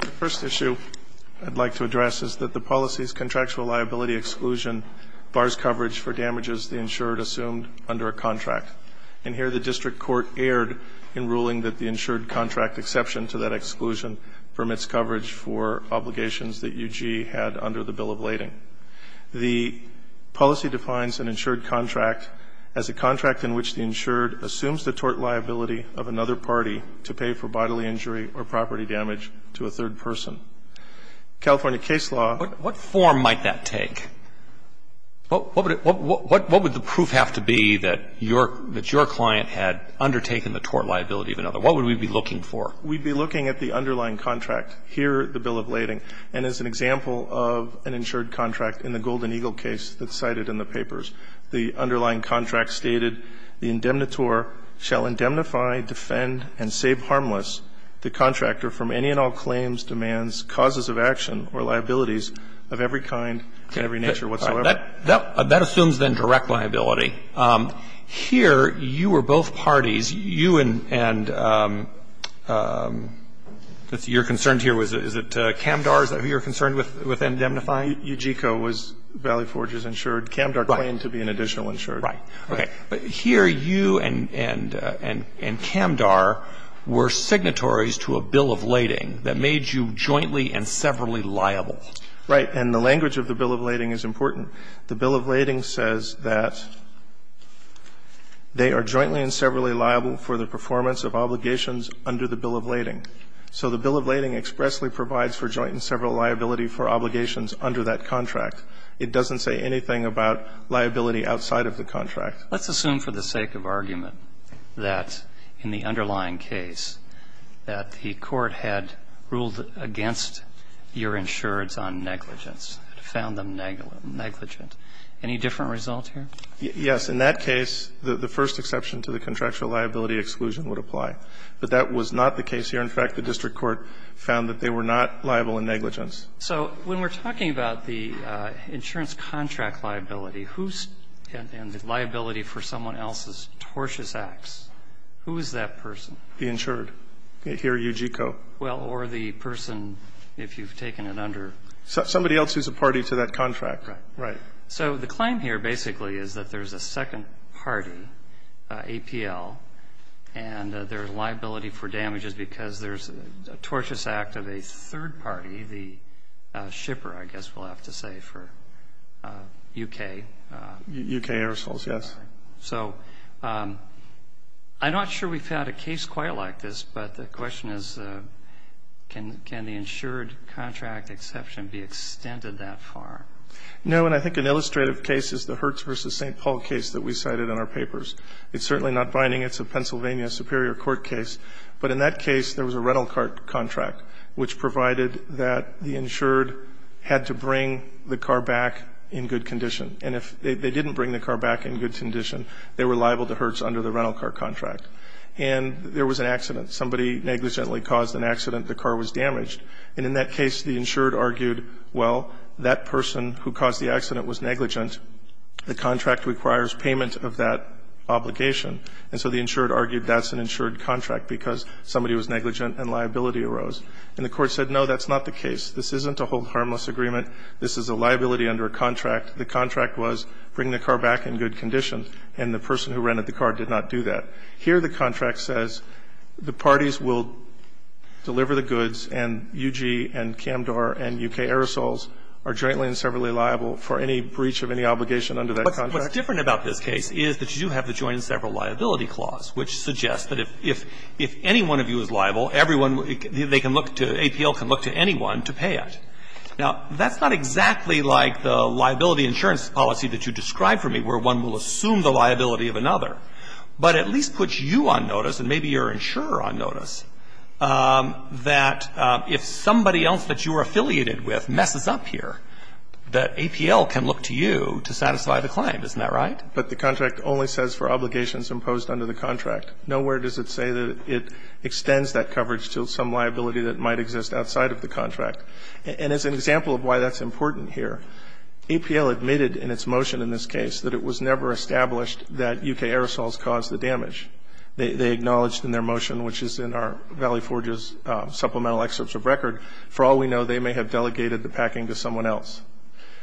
The first issue I'd like to address is that the policy's contractual liability exclusion bars coverage for damages the insured assumed under a contract. And here the district court erred in ruling that the insured contract exception to that exclusion permits coverage for obligations that UG had under the Bill of Lading. The policy defines an insured contract as a contract in which the insured assumes the tort liability of another party to pay for bodily injury or property damage to a third person. California case law What form might that take? What would the proof have to be that your client had undertaken the tort liability of another? What would we be looking for? We'd be looking at the underlying contract, here the Bill of Lading, and as an example of an insured contract in the Golden Eagle case that's cited in the papers. The underlying contract stated, The indemnitor shall indemnify, defend, and save harmless the contractor from any and all claims, demands, causes of action, or liabilities of every kind and every nature whatsoever. All right. That assumes, then, direct liability. Here, you were both parties. You and you're concerned here, is it Camdar? Is that who you're concerned with indemnifying? UGCO was Valley Forge's insured. Camdar claimed to be an additional insured. Right. Okay. But here you and Camdar were signatories to a Bill of Lading that made you jointly and severally liable. Right. And the language of the Bill of Lading is important. The Bill of Lading says that they are jointly and severally liable for the performance of obligations under the Bill of Lading. So the Bill of Lading expressly provides for joint and several liability for obligations under that contract. It doesn't say anything about liability outside of the contract. Let's assume for the sake of argument that in the underlying case that the court had ruled against your insureds on negligence, found them negligent. Any different result here? Yes. In that case, the first exception to the contractual liability exclusion would apply. But that was not the case here. In fact, the district court found that they were not liable in negligence. So when we're talking about the insurance contract liability and the liability for someone else's tortious acts, who is that person? The insured. Here, UGCO. Well, or the person, if you've taken it under. Somebody else who's a party to that contract. Right. So the claim here basically is that there's a second party, APL, and their liability for damage is because there's a tortious act of a third party, the shipper, I guess we'll have to say, for U.K. U.K. aerosols, yes. So I'm not sure we've had a case quite like this, but the question is can the insured contract exception be extended that far? No, and I think an illustrative case is the Hertz v. St. Paul case that we cited in our papers. It's certainly not binding. It's a Pennsylvania superior court case. But in that case, there was a rental car contract which provided that the insured had to bring the car back in good condition. And if they didn't bring the car back in good condition, they were liable to Hertz under the rental car contract. And there was an accident. Somebody negligently caused an accident. The car was damaged. And in that case, the insured argued, well, that person who caused the accident was negligent. The contract requires payment of that obligation. And so the insured argued that's an insured contract because somebody was negligent and liability arose. And the Court said, no, that's not the case. This isn't a hold harmless agreement. This is a liability under a contract. The contract was bring the car back in good condition. And the person who rented the car did not do that. Here the contract says the parties will deliver the goods and U.G. and Camdar and U.K. aerosols are jointly and severally liable for any breach of any obligation under that contract. But what's different about this case is that you have the jointly and severally liability clause, which suggests that if any one of you is liable, everyone they can look to, APL can look to anyone to pay it. Now, that's not exactly like the liability insurance policy that you described for me where one will assume the liability of another, but at least puts you on notice and maybe your insurer on notice that if somebody else that you are affiliated with messes up here, that APL can look to you to satisfy the claim. Isn't that right? But the contract only says for obligations imposed under the contract. Nowhere does it say that it extends that coverage to some liability that might exist outside of the contract. And as an example of why that's important here, APL admitted in its motion in this case that it was never established that U.K. aerosols caused the damage. They acknowledged in their motion, which is in our Valley Forges supplemental excerpts of record, for all we know, they may have delegated the packing to someone else.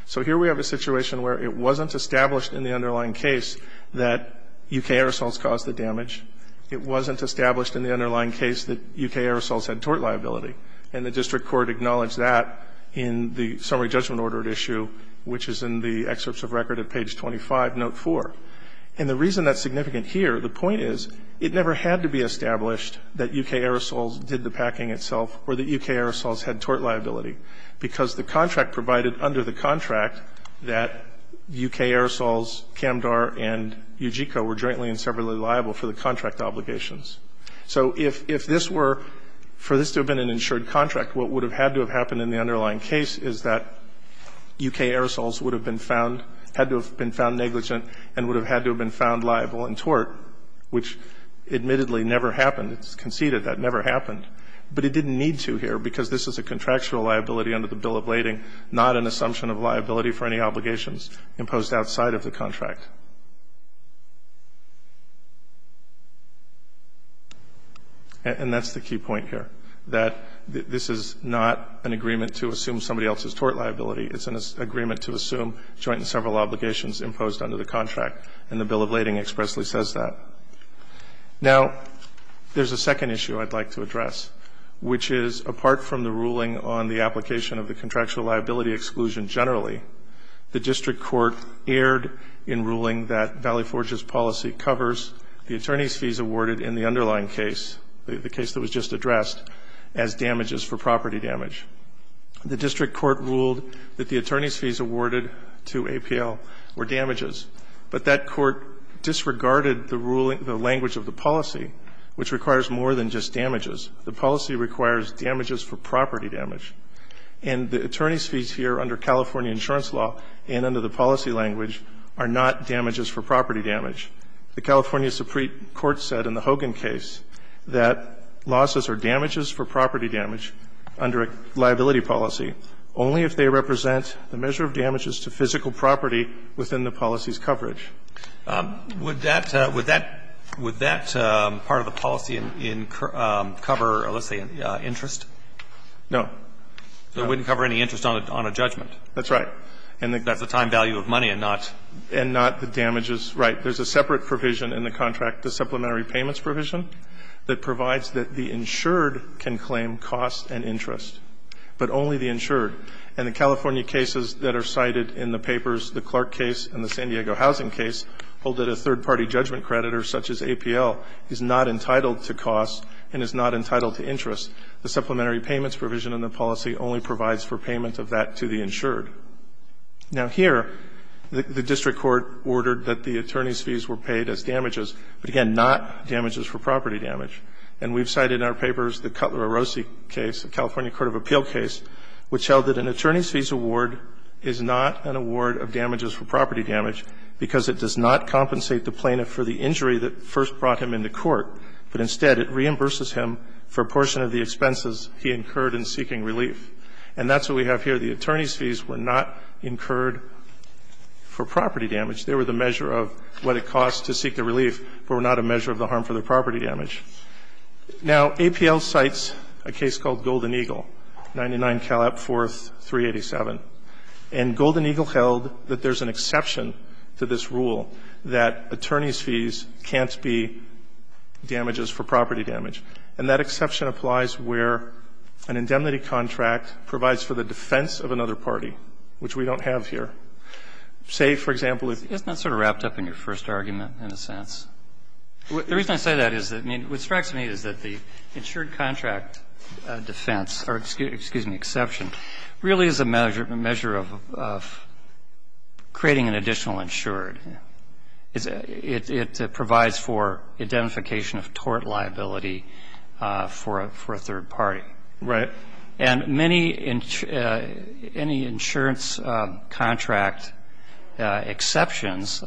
So here we have a situation where it wasn't established in the underlying case that U.K. aerosols caused the damage. It wasn't established in the underlying case that U.K. aerosols had tort liability. And the district court acknowledged that in the summary judgment order at issue, which is in the excerpts of record at page 25, note 4. And the reason that's significant here, the point is, it never had to be established that U.K. aerosols did the packing itself or that U.K. aerosols had tort liability, because the contract provided under the contract that U.K. aerosols, Camdar and Ujico, were jointly and severally liable for the contract obligations. So if this were, for this to have been an insured contract, what would have had to have happened in the underlying case is that U.K. aerosols would have been found, had to have been found negligent and would have had to have been found liable in tort, which admittedly never happened. It's conceded that never happened. But it didn't need to here, because this is a contractual liability under the Bill of Lading, not an assumption of liability for any obligations imposed outside of the contract. And that's the key point here, that this is not an agreement to assume somebody else's tort liability. It's an agreement to assume joint and several obligations imposed under the contract, and the Bill of Lading expressly says that. Now, there's a second issue I'd like to address, which is apart from the ruling on the application of the contractual liability exclusion generally, the district court erred in ruling that Valley Forge's policy covers the attorney's fees awarded in the underlying case, the case that was just addressed, as damages for property damage. The district court ruled that the attorney's fees awarded to APL were damages, but that court disregarded the language of the policy, which requires more than just damages. The policy requires damages for property damage. And the attorney's fees here under California insurance law and under the policy language are not damages for property damage. The California Supreme Court said in the Hogan case that losses are damages for property damage under a liability policy only if they represent the measure of damages to physical property within the policy's coverage. Would that part of the policy cover, let's say, interest? No. So it wouldn't cover any interest on a judgment. That's right. That's the time value of money and not the damages. Right. There's a separate provision in the contract, the supplementary payments provision, that provides that the insured can claim costs and interest, but only the insured. And the California cases that are cited in the papers, the Clark case and the San Diego housing case, hold that a third-party judgment creditor such as APL is not entitled to costs and is not entitled to interest. The supplementary payments provision in the policy only provides for payment of that to the insured. Now, here, the district court ordered that the attorney's fees were paid as damages, but, again, not damages for property damage. And we've cited in our papers the Cutler-Arose case, the California court of appeal case, which held that an attorney's fees award is not an award of damages for property damage because it does not compensate the plaintiff for the injury that first brought him into court, but instead it reimburses him for a portion of the expenses he incurred in seeking relief. And that's what we have here. The attorney's fees were not incurred for property damage. They were the measure of what it costs to seek the relief, but were not a measure of the harm for the property damage. Now, APL cites a case called Golden Eagle, 99 Cal Up 4th 387, and Golden Eagle held that there's an exception to this rule that attorney's fees can't be damages for property damage, and that exception applies where an indemnity contract provides for the defense of another party, which we don't have here. Say, for example, if you go to the court of appeals and say, well, I'm not going What strikes me is that the insured contract defense, or excuse me, exception, really is a measure of creating an additional insured. It provides for identification of tort liability for a third party. Right. And many insurance contract exceptions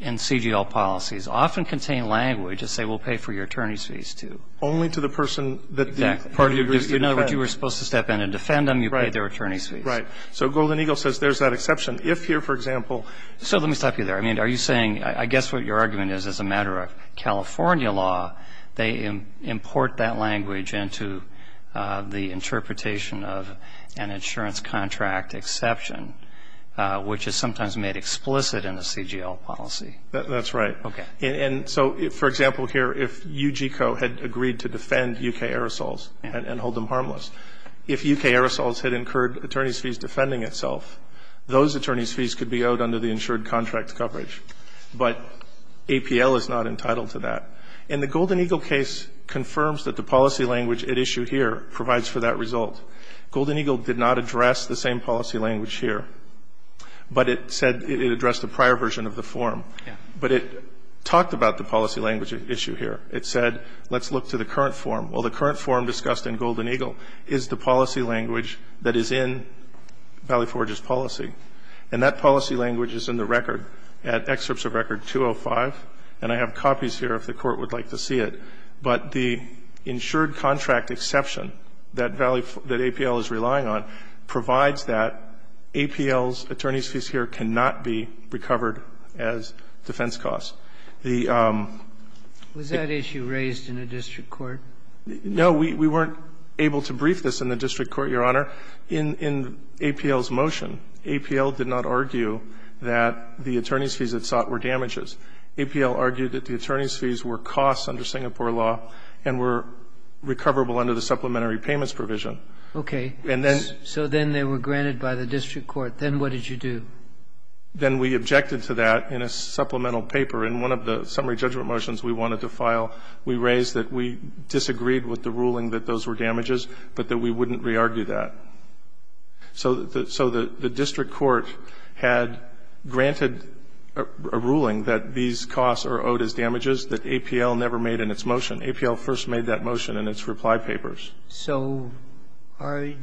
in CGL policies often contain language to say we'll pay for your attorney's fees, too. Only to the person that the party agrees to defend. Exactly. In other words, you were supposed to step in and defend them. You pay their attorney's fees. Right. So Golden Eagle says there's that exception. If here, for example. So let me stop you there. I mean, are you saying, I guess what your argument is, as a matter of California law, they import that language into the interpretation of an insurance contract exception, which is sometimes made explicit in the CGL policy. That's right. Okay. And so, for example, here, if UGCO had agreed to defend U.K. Aerosols and hold them harmless, if U.K. Aerosols had incurred attorney's fees defending itself, those attorney's fees could be owed under the insured contract coverage. But APL is not entitled to that. And the Golden Eagle case confirms that the policy language it issued here provides for that result. Golden Eagle did not address the same policy language here, but it said it addressed a prior version of the form. Yeah. But it talked about the policy language issue here. It said, let's look to the current form. Well, the current form discussed in Golden Eagle is the policy language that is in Valley Forge's policy. And that policy language is in the record, at excerpts of record 205. And I have copies here, if the Court would like to see it. But the insured contract exception that APL is relying on provides that APL's defense costs. The ---- Was that issue raised in a district court? No. We weren't able to brief this in the district court, Your Honor. In APL's motion, APL did not argue that the attorney's fees it sought were damages. APL argued that the attorney's fees were costs under Singapore law and were recoverable under the supplementary payments provision. Okay. So then they were granted by the district court. Then what did you do? Then we objected to that in a supplemental paper. In one of the summary judgment motions we wanted to file, we raised that we disagreed with the ruling that those were damages, but that we wouldn't re-argue that. So the district court had granted a ruling that these costs are owed as damages that APL never made in its motion. APL first made that motion in its reply papers. So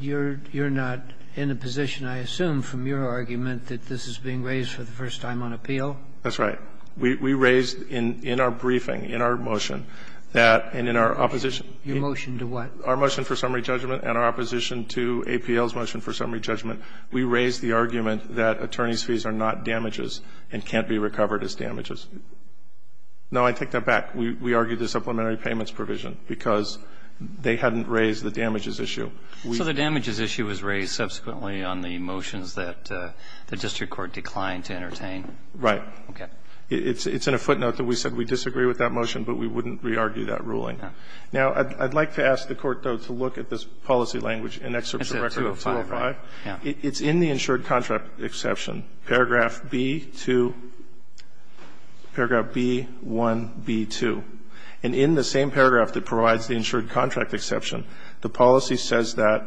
you're not in a position, I assume from your argument, that this is being raised for the first time on appeal? That's right. We raised in our briefing, in our motion, that and in our opposition. Your motion to what? Our motion for summary judgment and our opposition to APL's motion for summary judgment, we raised the argument that attorney's fees are not damages and can't be recovered as damages. Now, I take that back. We argued the supplementary payments provision because they hadn't raised the damages issue. So the damages issue was raised subsequently on the motions that the district court declined to entertain? Right. Okay. It's in a footnote that we said we disagree with that motion, but we wouldn't re-argue that ruling. Now, I'd like to ask the Court, though, to look at this policy language in Excerpts of Record 205. It's in the insured contract exception, paragraph B-2, paragraph B-1B-2. And in the same paragraph that provides the insured contract exception, the policy says that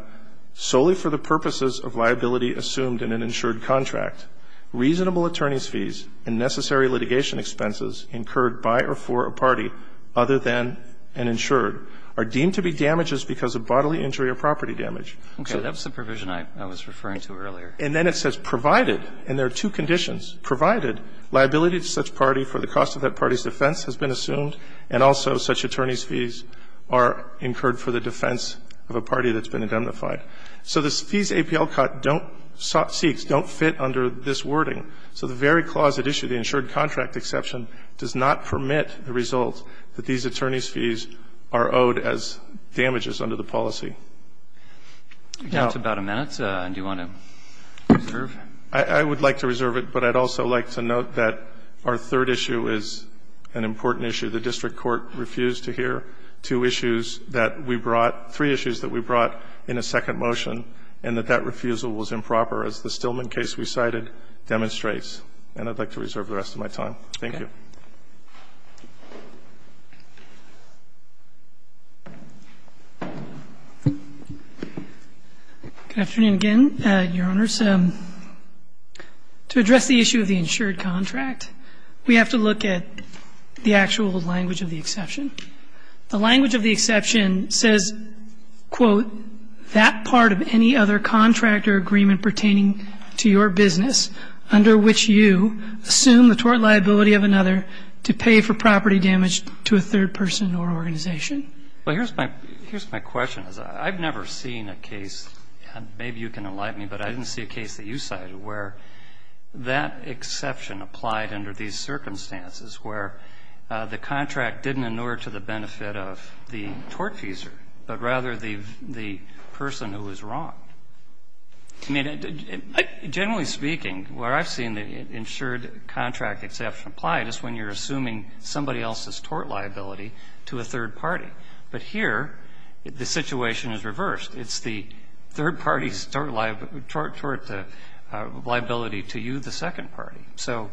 solely for the purposes of liability assumed in an insured contract, reasonable attorney's fees and necessary litigation expenses incurred by or for a party other than an insured are deemed to be damages because of bodily injury or property damage. Okay. That was the provision I was referring to earlier. And then it says provided, and there are two conditions, provided liability to such a party's defense has been assumed, and also such attorney's fees are incurred for the defense of a party that's been identified. So the fees APL cut don't seek, don't fit under this wording. So the very clause at issue, the insured contract exception, does not permit the result that these attorney's fees are owed as damages under the policy. That's about a minute. Do you want to reserve? I would like to reserve it, but I'd also like to note that our third issue is an important issue. The district court refused to hear two issues that we brought, three issues that we brought in a second motion, and that that refusal was improper, as the Stillman case we cited demonstrates. And I'd like to reserve the rest of my time. Thank you. Good afternoon again, Your Honors. To address the issue of the insured contract, we have to look at the actual language of the exception. The language of the exception says, quote, that part of any other contract or agreement pertaining to your business under which you assume the tort liability of another to pay for property damage to a third person or organization. Well, here's my question. I've never seen a case, and maybe you can enlighten me, but I didn't see a case that you cited where that exception applied under these circumstances where the contract didn't inure to the benefit of the tort feeser, but rather the person who was wrong. I mean, generally speaking, where I've seen the insured contract exception apply is when you're assuming somebody else's tort liability to a third party. But here, the situation is reversed. It's the third party's tort liability to you, the second party. So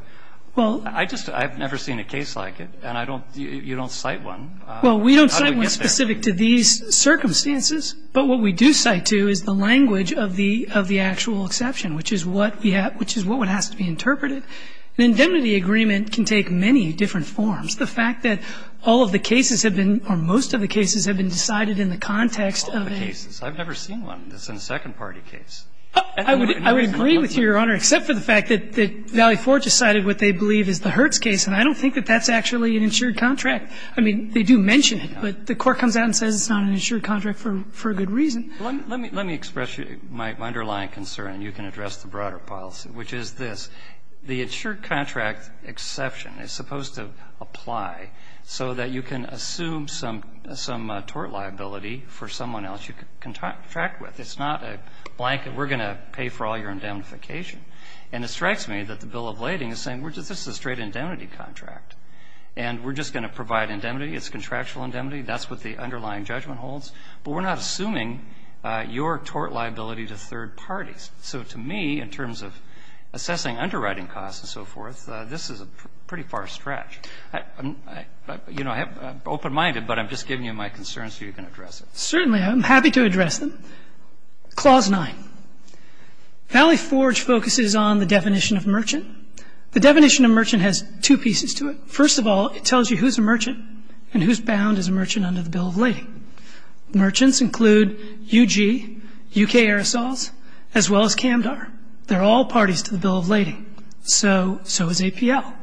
I've never seen a case like it, and you don't cite one. Well, we don't cite one specific to these circumstances, but what we do cite to is the language of the actual exception, which is what has to be interpreted. An indemnity agreement can take many different forms. The fact that all of the cases have been or most of the cases have been decided in the context of a case. I've never seen one that's in a second party case. I would agree with you, Your Honor, except for the fact that Valley Forge has cited what they believe is the Hertz case, and I don't think that that's actually an insured contract. I mean, they do mention it, but the Court comes out and says it's not an insured contract for a good reason. Let me express my underlying concern, and you can address the broader policy, which is this. The insured contract exception is supposed to apply so that you can assume some tort liability for someone else you contract with. It's not a blanket, we're going to pay for all your indemnification. And it strikes me that the bill of lading is saying this is a straight indemnity contract, and we're just going to provide indemnity. It's contractual indemnity. That's what the underlying judgment holds. But we're not assuming your tort liability to third parties. So to me, in terms of assessing underwriting costs and so forth, this is a pretty far stretch. You know, I'm open-minded, but I'm just giving you my concerns so you can address it. Certainly. I'm happy to address them. Clause 9. Valley Forge focuses on the definition of merchant. The definition of merchant has two pieces to it. First of all, it tells you who is a merchant and who is bound as a merchant under the bill of lading. Merchants include U.G., U.K. Aerosols, as well as Camdar. They're all parties to the bill of lading. So is APL.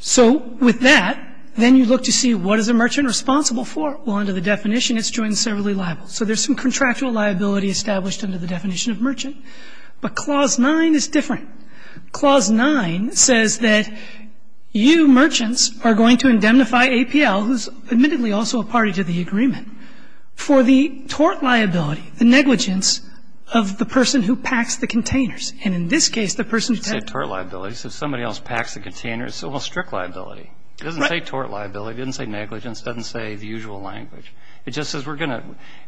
So with that, then you look to see what is a merchant responsible for. Well, under the definition, it's joint and severally liable. So there's some contractual liability established under the definition of merchant. But Clause 9 is different. Clause 9 says that you merchants are going to indemnify APL, who's admittedly also a party to the agreement, for the tort liability, the negligence of the person who packs the containers. And in this case, the person who packed the containers. It doesn't say tort liability. It says somebody else packs the containers. It's almost strict liability. Right. It doesn't say tort liability. It doesn't say negligence. It doesn't say the usual language. It just says we're going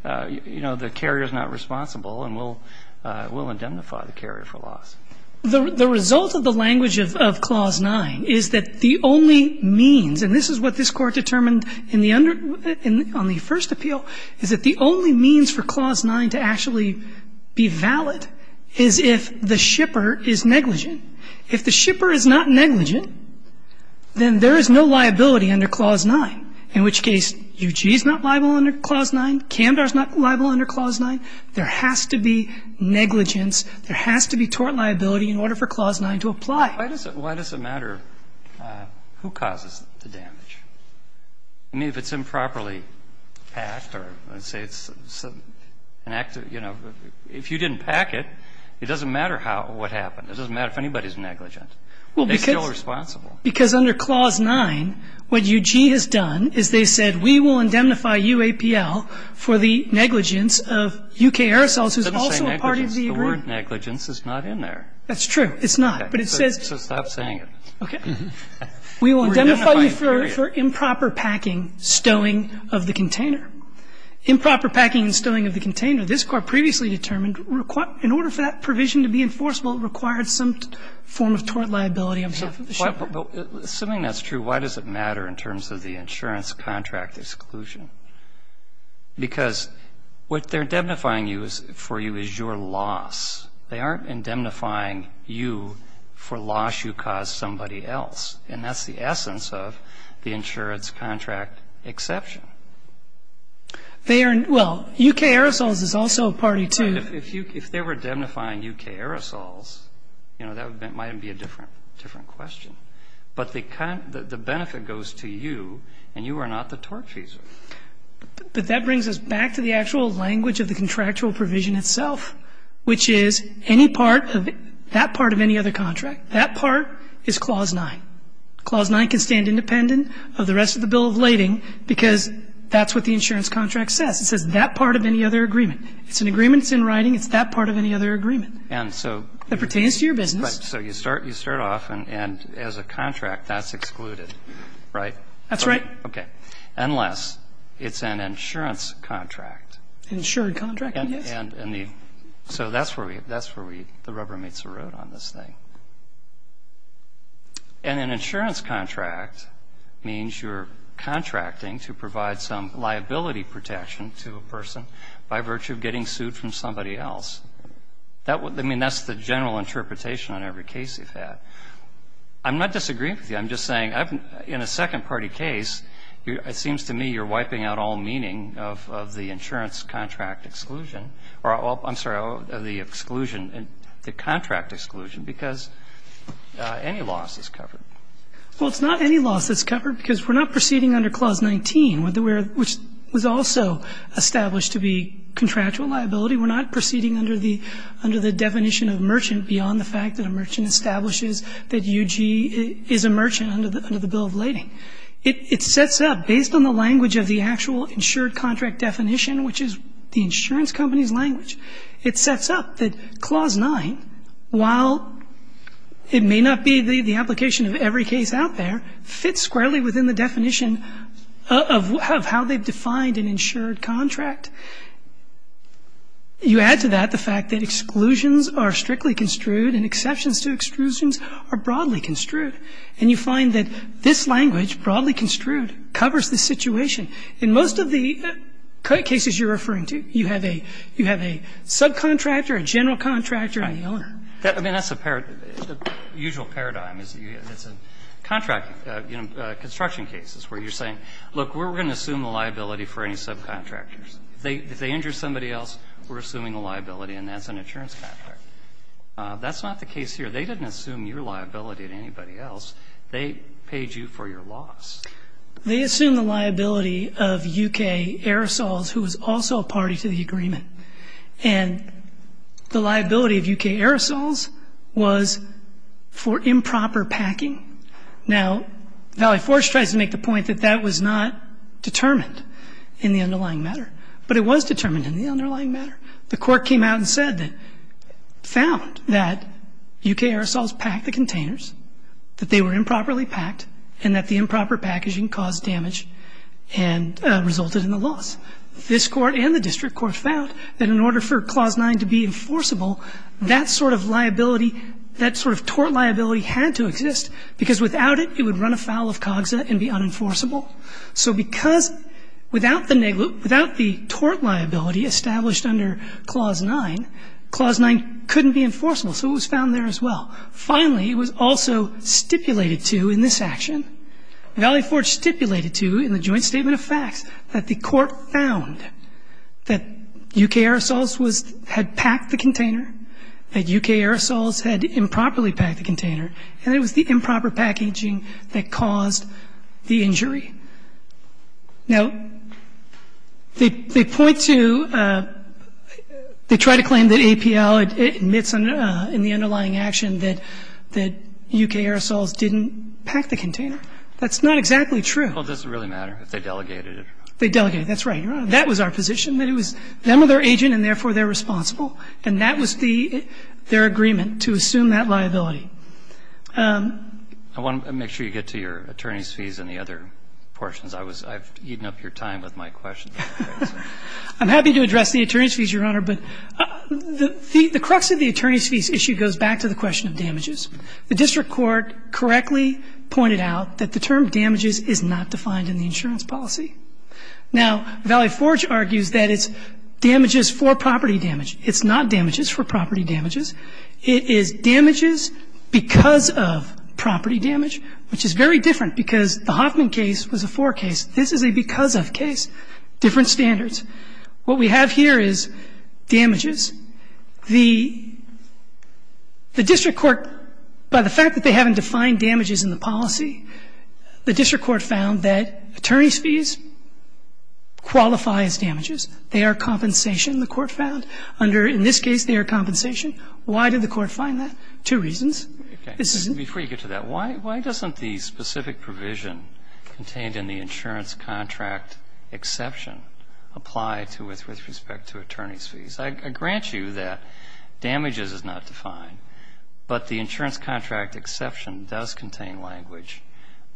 to, you know, the carrier is not responsible and we'll indemnify the carrier for loss. The result of the language of Clause 9 is that the only means, and this is what this has to do with it on the first appeal, is that the only means for Clause 9 to actually be valid is if the shipper is negligent. If the shipper is not negligent, then there is no liability under Clause 9. In which case, UG is not liable under Clause 9. Camdar is not liable under Clause 9. There has to be negligence. There has to be tort liability in order for Clause 9 to apply. Why does it matter who causes the damage? I mean, if it's improperly packed or let's say it's an active, you know, if you didn't pack it, it doesn't matter what happened. It doesn't matter if anybody is negligent. They're still responsible. Because under Clause 9, what UG has done is they said we will indemnify UAPL for the negligence of U.K. Aerosols, who is also a part of the agreement. It doesn't say negligence. The word negligence is not in there. That's true. It's not. But it says. So stop saying it. Okay. We will indemnify you for improper packing, stowing of the container. Improper packing and stowing of the container, this Court previously determined in order for that provision to be enforceable, it required some form of tort liability on behalf of the shipper. Assuming that's true, why does it matter in terms of the insurance contract exclusion? Because what they're indemnifying you for is your loss. They aren't indemnifying you for loss you caused somebody else. And that's the essence of the insurance contract exception. They are ñ well, U.K. Aerosols is also a party to. If they were indemnifying U.K. Aerosols, you know, that might be a different question. But the benefit goes to you, and you are not the tort feeser. But that brings us back to the actual language of the contractual provision itself, which is any part of ñ that part of any other contract, that part is Clause 9. Clause 9 can stand independent of the rest of the bill of lading because that's what the insurance contract says. It says that part of any other agreement. It's an agreement that's in writing. It's that part of any other agreement. And so ñ That pertains to your business. Right. So you start off, and as a contract, that's excluded, right? That's right. Okay. Unless it's an insurance contract. An insured contract, yes. So that's where we ñ that's where the rubber meets the road on this thing. And an insurance contract means you're contracting to provide some liability protection to a person by virtue of getting sued from somebody else. I mean, that's the general interpretation on every case you've had. I'm not disagreeing with you. I'm just saying in a second-party case, it seems to me you're wiping out all meaning of the insurance contract exclusion ñ or, I'm sorry, the exclusion ñ the contract exclusion because any loss is covered. Well, it's not any loss that's covered because we're not proceeding under Clause 19, which was also established to be contractual liability. We're not proceeding under the definition of merchant beyond the fact that a merchant establishes that UG is a merchant under the bill of lading. It sets up, based on the language of the actual insured contract definition, which is the insurance company's language, it sets up that Clause 9, while it may not be the application of every case out there, fits squarely within the definition of how they've defined an insured contract. You add to that the fact that exclusions are strictly construed and exceptions to exclusions are broadly construed. And you find that this language, broadly construed, covers the situation. In most of the cases you're referring to, you have a ñ you have a subcontractor, a general contractor, and the owner. I mean, that's a usual paradigm. It's a contract ñ you know, construction cases where you're saying, look, we're going to assume the liability for any subcontractors. If they injure somebody else, we're assuming a liability, and that's an insurance contract. That's not the case here. They didn't assume your liability to anybody else. They paid you for your loss. They assumed the liability of U.K. Aerosols, who was also a party to the agreement. And the liability of U.K. Aerosols was for improper packing. Now, Valley Forge tries to make the point that that was not determined in the underlying matter, but it was determined in the underlying matter. The Court came out and said that ñ found that U.K. Aerosols packed the containers, that they were improperly packed, and that the improper packaging caused damage and resulted in the loss. This Court and the district court found that in order for Clause 9 to be enforceable, that sort of liability, that sort of tort liability had to exist, because without it, it would run afoul of COGSA and be unenforceable. So because without the ñ without the tort liability established under Clause 9, Clause 9 couldn't be enforceable. So it was found there as well. Finally, it was also stipulated to in this action, Valley Forge stipulated to in the joint statement of facts, that the Court found that U.K. Aerosols was ñ had packed the container, that U.K. Aerosols had improperly packed the container, and it was the U.K. Aerosols. Now, they point to ñ they try to claim that APL admits in the underlying action that U.K. Aerosols didn't pack the container. That's not exactly true. Well, does it really matter if they delegated it? They delegated it. That's right, Your Honor. That was our position, that it was ñ them or their agent, and therefore they're responsible. And that was the ñ their agreement, to assume that liability. I want to make sure you get to your attorney's fees and the other portions. I was ñ I've eaten up your time with my questions. I'm happy to address the attorney's fees, Your Honor, but the crux of the attorney's fees issue goes back to the question of damages. The district court correctly pointed out that the term damages is not defined in the insurance policy. Now, Valley Forge argues that it's damages for property damage. It's not damages for property damages. It is damages because of property damage, which is very different, because the Hoffman case was a four case. This is a because of case, different standards. What we have here is damages. The district court, by the fact that they haven't defined damages in the policy, the district court found that attorney's fees qualify as damages. They are compensation, the court found, under ñ in this case, they are compensation compensation. Why did the court find that? Two reasons. This isn't ñ Okay. Before you get to that, why doesn't the specific provision contained in the insurance contract exception apply to with respect to attorney's fees? I grant you that damages is not defined, but the insurance contract exception does contain language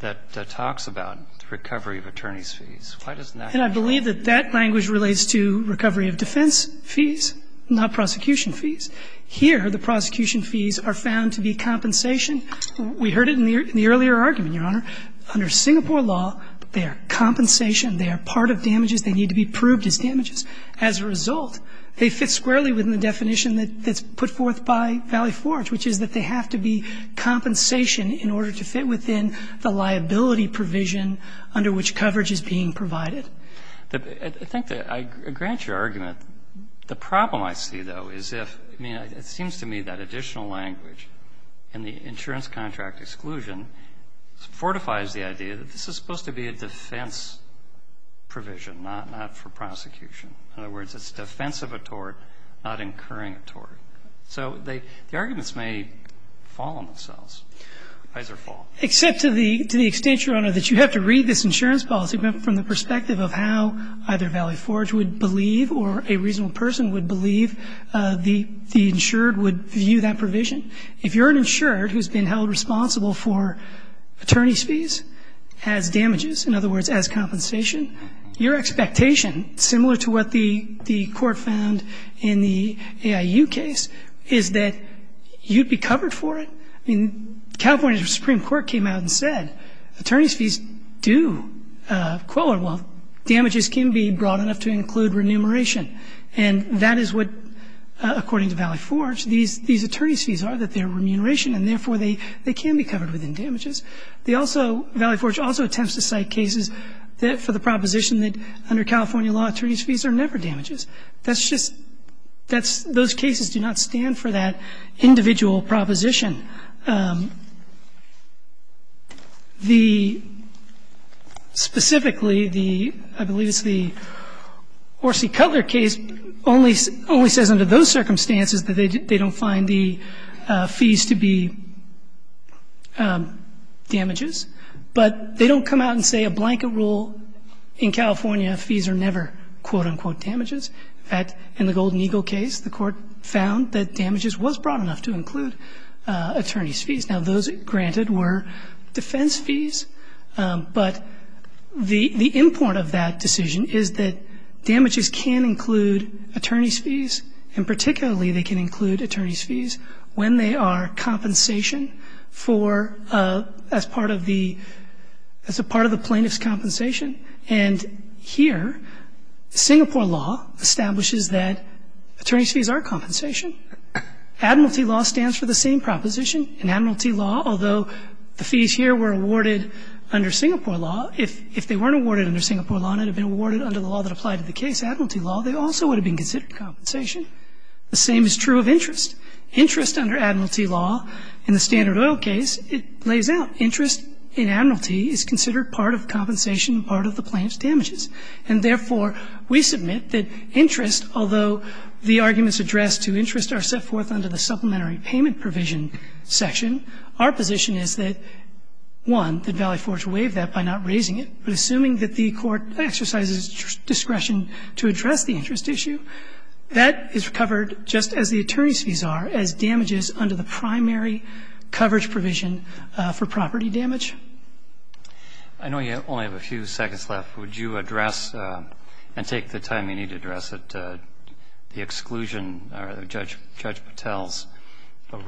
that talks about recovery of attorney's fees. Why doesn't that apply? And I believe that that language relates to recovery of defense fees, not prosecution fees. Here, the prosecution fees are found to be compensation. We heard it in the earlier argument, Your Honor. Under Singapore law, they are compensation. They are part of damages. They need to be proved as damages. As a result, they fit squarely within the definition that's put forth by Valley Forge, which is that they have to be compensation in order to fit within the liability provision under which coverage is being provided. I think that I grant your argument. The problem I see, though, is if ñ I mean, it seems to me that additional language in the insurance contract exclusion fortifies the idea that this is supposed to be a defense provision, not for prosecution. In other words, it's defense of a tort, not incurring a tort. So the arguments may fall on themselves. Fees are full. Except to the extent, Your Honor, that you have to read this insurance policy from the perspective of how either Valley Forge would believe or a reasonable person would believe the insured would view that provision. If you're an insured who's been held responsible for attorney's fees as damages, in other words, as compensation, your expectation, similar to what the court found in the AIU case, is that you'd be covered for it. I mean, California's Supreme Court came out and said, attorney's fees do, damages can be broad enough to include remuneration. And that is what, according to Valley Forge, these attorney's fees are, that they're remuneration, and therefore they can be covered within damages. They also, Valley Forge also attempts to cite cases that for the proposition that under California law, attorney's fees are never damages. That's just, that's, those cases do not stand for that individual proposition. The, specifically, the, I believe it's the Horsey-Cutler case, only says under those circumstances that they don't find the fees to be damages. But they don't come out and say, a blanket rule in California, fees are never quote-unquote damages. In fact, in the Golden Eagle case, the court found that damages was broad enough to include attorney's fees. Now, those granted were defense fees, but the, the import of that decision is that damages can include attorney's fees, and particularly they can include attorney's fees when they are compensation for, as part of the, as a part of the plaintiff's compensation. And here, Singapore law establishes that attorney's fees are compensation. Admiralty law stands for the same proposition. In Admiralty law, although the fees here were awarded under Singapore law, if, if they weren't awarded under Singapore law and had been awarded under the law that applied to the case, Admiralty law, they also would have been considered compensation. The same is true of interest. Interest under Admiralty law, in the Standard Oil case, it lays out. Interest in Admiralty is considered part of compensation, part of the plaintiff's damages. And therefore, we submit that interest, although the arguments addressed to interest are set forth under the supplementary payment provision section, our position is that, one, that Valley Forge waived that by not raising it, but assuming that the court exercises discretion to address the interest issue, that is covered just as the attorney's fees are as damages under the primary coverage provision for property damage. I know you only have a few seconds left. Would you address and take the time you need to address the exclusion or Judge Patel's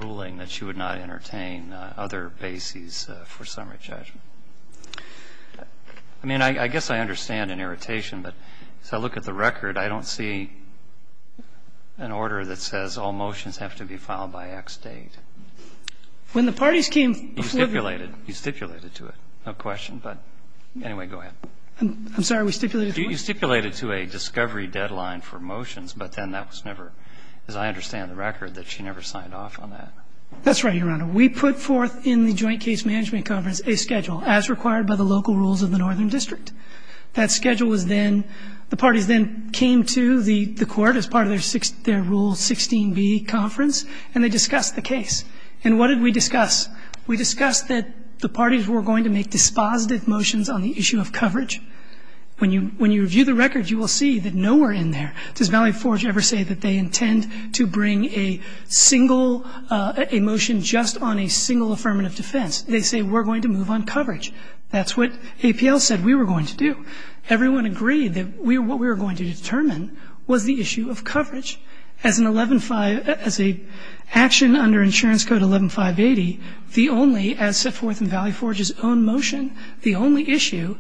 ruling that she would not entertain other bases for summary judgment? I mean, I guess I understand an irritation, but as I look at the record, I don't see an order that says all motions have to be filed by X date. When the parties came to the court. You stipulated. You stipulated to it. No question, but anyway, go ahead. I'm sorry. We stipulated to what? You stipulated to a discovery deadline for motions, but then that was never, as I understand the record, that she never signed off on that. That's right, Your Honor. We put forth in the Joint Case Management Conference a schedule as required by the local rules of the Northern District. That schedule was then the parties then came to the court as part of their Rule 16b conference, and they discussed the case. And what did we discuss? We discussed that the parties were going to make dispositive motions on the issue of coverage. When you review the record, you will see that nowhere in there does Valley Forge ever say that they intend to bring a single motion just on a single affirmative defense. They say we're going to move on coverage. That's what APL said we were going to do. Everyone agreed that what we were going to determine was the issue of coverage as an 11-5, as an action under Insurance Code 11-580. The only, as set forth in Valley Forge's own motion, the only issue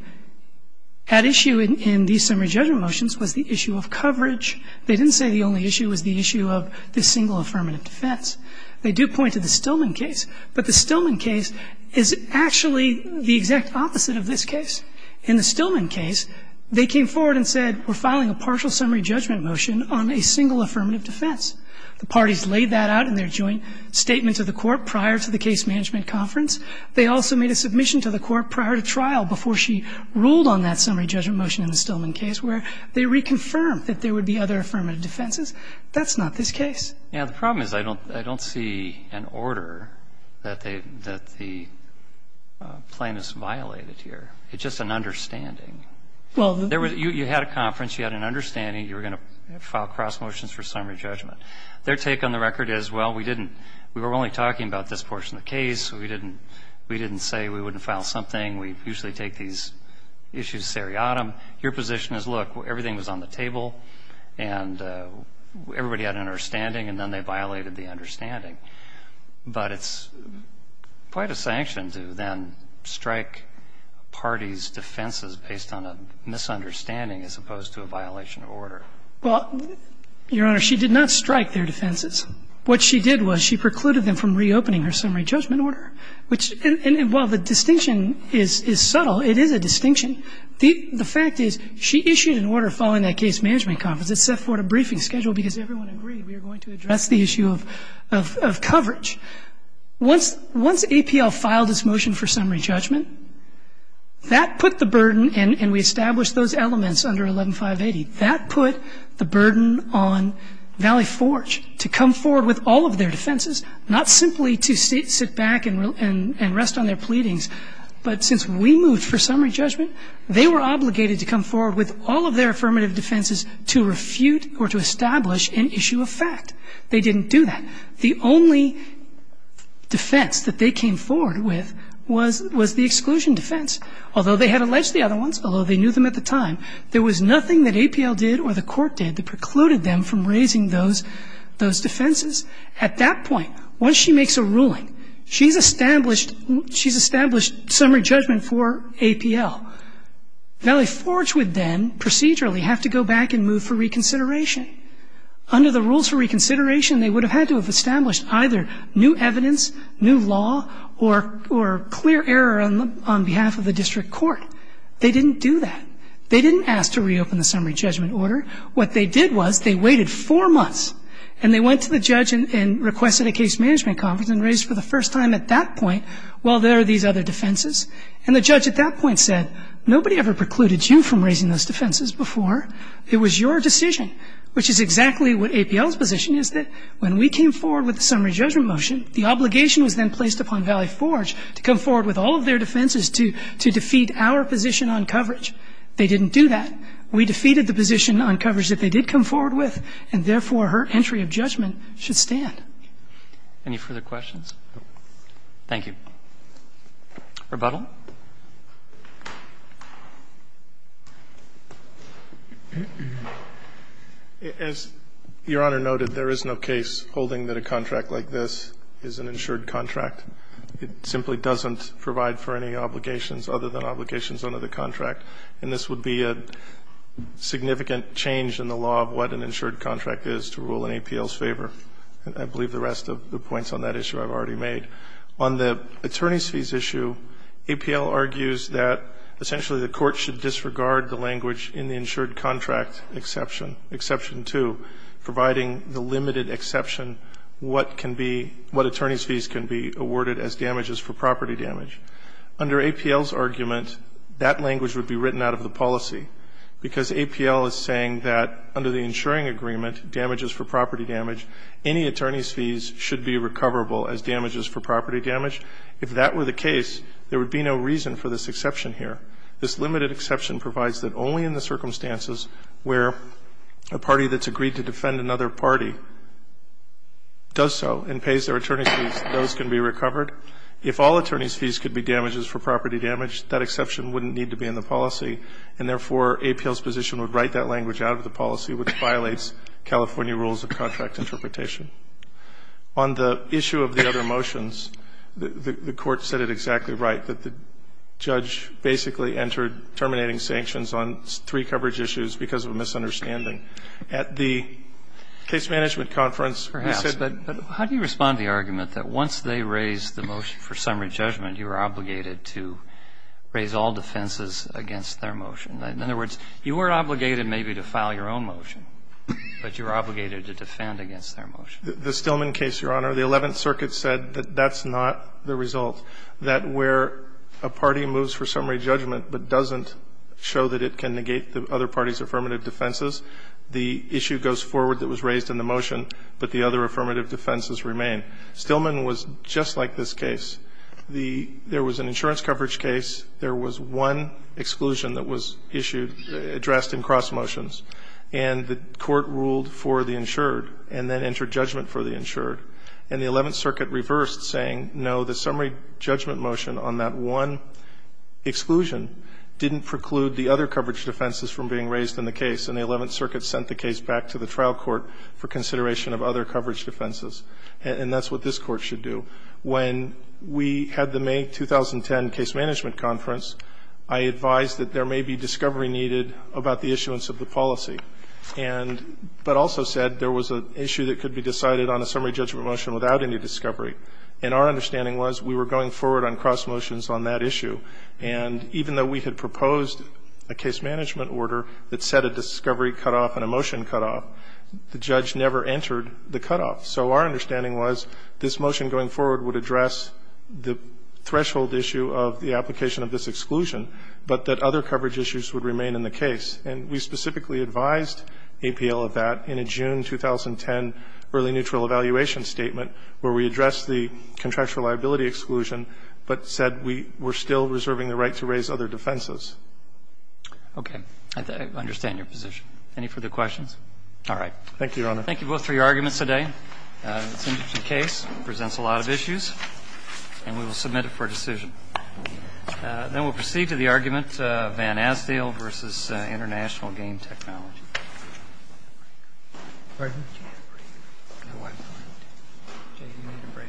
at issue in these summary judgment motions was the issue of coverage. They didn't say the only issue was the issue of the single affirmative defense. They do point to the Stillman case, but the Stillman case is actually the exact opposite of this case. In the Stillman case, they came forward and said we're filing a partial summary judgment motion on a single affirmative defense. The parties laid that out in their joint statement to the court prior to the case management conference. They also made a submission to the court prior to trial before she ruled on that summary judgment motion in the Stillman case where they reconfirmed that there would be other affirmative defenses. That's not this case. Yeah. The problem is I don't see an order that the plan is violated here. It's just an understanding. Well, there was you had a conference. You had an understanding. You were going to file cross motions for summary judgment. Their take on the record is, well, we didn't. We were only talking about this portion of the case. We didn't say we wouldn't file something. We usually take these issues seriatim. Your position is, look, everything was on the table and everybody had an understanding and then they violated the understanding. But it's quite a sanction to then strike parties' defenses based on a misunderstanding as opposed to a violation of order. Well, Your Honor, she did not strike their defenses. What she did was she precluded them from reopening her summary judgment order. And while the distinction is subtle, it is a distinction. The fact is she issued an order following that case management conference. It set forth a briefing schedule because everyone agreed we were going to address the issue of coverage. Once APL filed this motion for summary judgment, that put the burden and we established those elements under 11-580. That put the burden on Valley Forge to come forward with all of their defenses, not simply to sit back and rest on their pleadings. But since we moved for summary judgment, they were obligated to come forward with all of their affirmative defenses to refute or to establish an issue of fact. They didn't do that. The only defense that they came forward with was the exclusion defense. Although they had alleged the other ones, although they knew them at the time, there was nothing that APL did or the court did that precluded them from raising those defenses. At that point, once she makes a ruling, she's established summary judgment for APL. Valley Forge would then procedurally have to go back and move for reconsideration. Under the rules for reconsideration, they would have had to have established either new evidence, new law, or clear error on behalf of the district court. They didn't do that. They didn't ask to reopen the summary judgment order. What they did was they waited four months and they went to the judge and requested a case management conference and raised for the first time at that point, well, there are these other defenses. And the judge at that point said, nobody ever precluded you from raising those defenses before. It was your decision, which is exactly what APL's position is that when we came forward with the summary judgment motion, the obligation was then placed upon Valley Forge to come forward with all of their defenses to defeat our position on coverage. They didn't do that. We defeated the position on coverage that they did come forward with, and therefore her entry of judgment should stand. Any further questions? Thank you. Rebuttal. As Your Honor noted, there is no case holding that a contract like this is an insured contract. It simply doesn't provide for any obligations other than obligations under the contract. And this would be a significant change in the law of what an insured contract is to rule in APL's favor. I believe the rest of the points on that issue I've already made. On the attorney's fees issue, APL argues that essentially the court should disregard the language in the insured contract exception, exception two, providing the limited exception what can be, what attorney's fees can be awarded as damages for property damage. Under APL's argument, that language would be written out of the policy because APL is saying that under the insuring agreement, damages for property damage, any attorney's fees should be recoverable as damages for property damage. If that were the case, there would be no reason for this exception here. This limited exception provides that only in the circumstances where a party that's agreed to defend another party does so and pays their attorney's fees, those can be recovered. If all attorney's fees could be damages for property damage, that exception wouldn't need to be in the policy, and therefore APL's position would write that language out of the policy, which violates California rules of contract interpretation. On the issue of the other motions, the court said it exactly right, that the judge basically entered terminating sanctions on three coverage issues because of a misunderstanding. At the case management conference, we said that the ---- Perhaps. How do you respond to the argument that once they raise the motion for summary judgment, you are obligated to raise all defenses against their motion? In other words, you are obligated maybe to file your own motion, but you are obligated to defend against their motion. The Stillman case, Your Honor, the Eleventh Circuit said that that's not the result, that where a party moves for summary judgment but doesn't show that it can negate the other party's affirmative defenses, the issue goes forward that was raised in the motion, but the other affirmative defenses remain. Stillman was just like this case. There was an insurance coverage case. There was one exclusion that was issued, addressed in cross motions, and the court ruled for the insured and then entered judgment for the insured. And the Eleventh Circuit reversed, saying, no, the summary judgment motion on that one exclusion didn't preclude the other coverage defenses from being raised in the case, and the Eleventh Circuit sent the case back to the trial court for consideration of other coverage defenses. And that's what this Court should do. When we had the May 2010 case management conference, I advised that there may be discovery needed about the issuance of the policy, but also said there was an issue that could be decided on a summary judgment motion without any discovery. And our understanding was we were going forward on cross motions on that issue, and even though we had proposed a case management order that set a discovery cutoff and a motion cutoff, the judge never entered the cutoff. So our understanding was this motion going forward would address the threshold issue of the application of this exclusion, but that other coverage issues would remain in the case. And we specifically advised APL of that in a June 2010 early neutral evaluation statement where we addressed the contractual liability exclusion, but said we were still reserving the right to raise other defenses. Roberts. Okay. I understand your position. Any further questions? All right. Thank you, Your Honor. Thank you both for your arguments today. It's an interesting case. It presents a lot of issues. And we will submit it for decision. Then we'll proceed to the argument, Van Asdale v. International Game Technology. Pardon? I can't breathe. No, I can't. Jay, you need a break.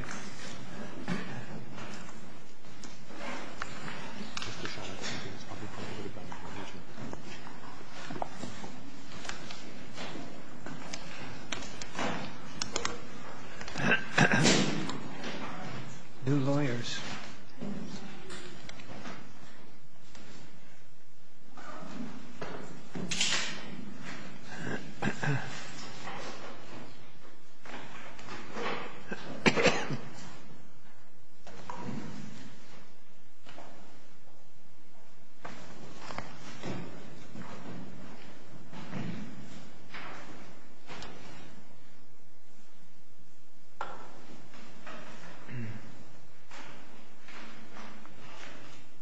New lawyers. Thank you.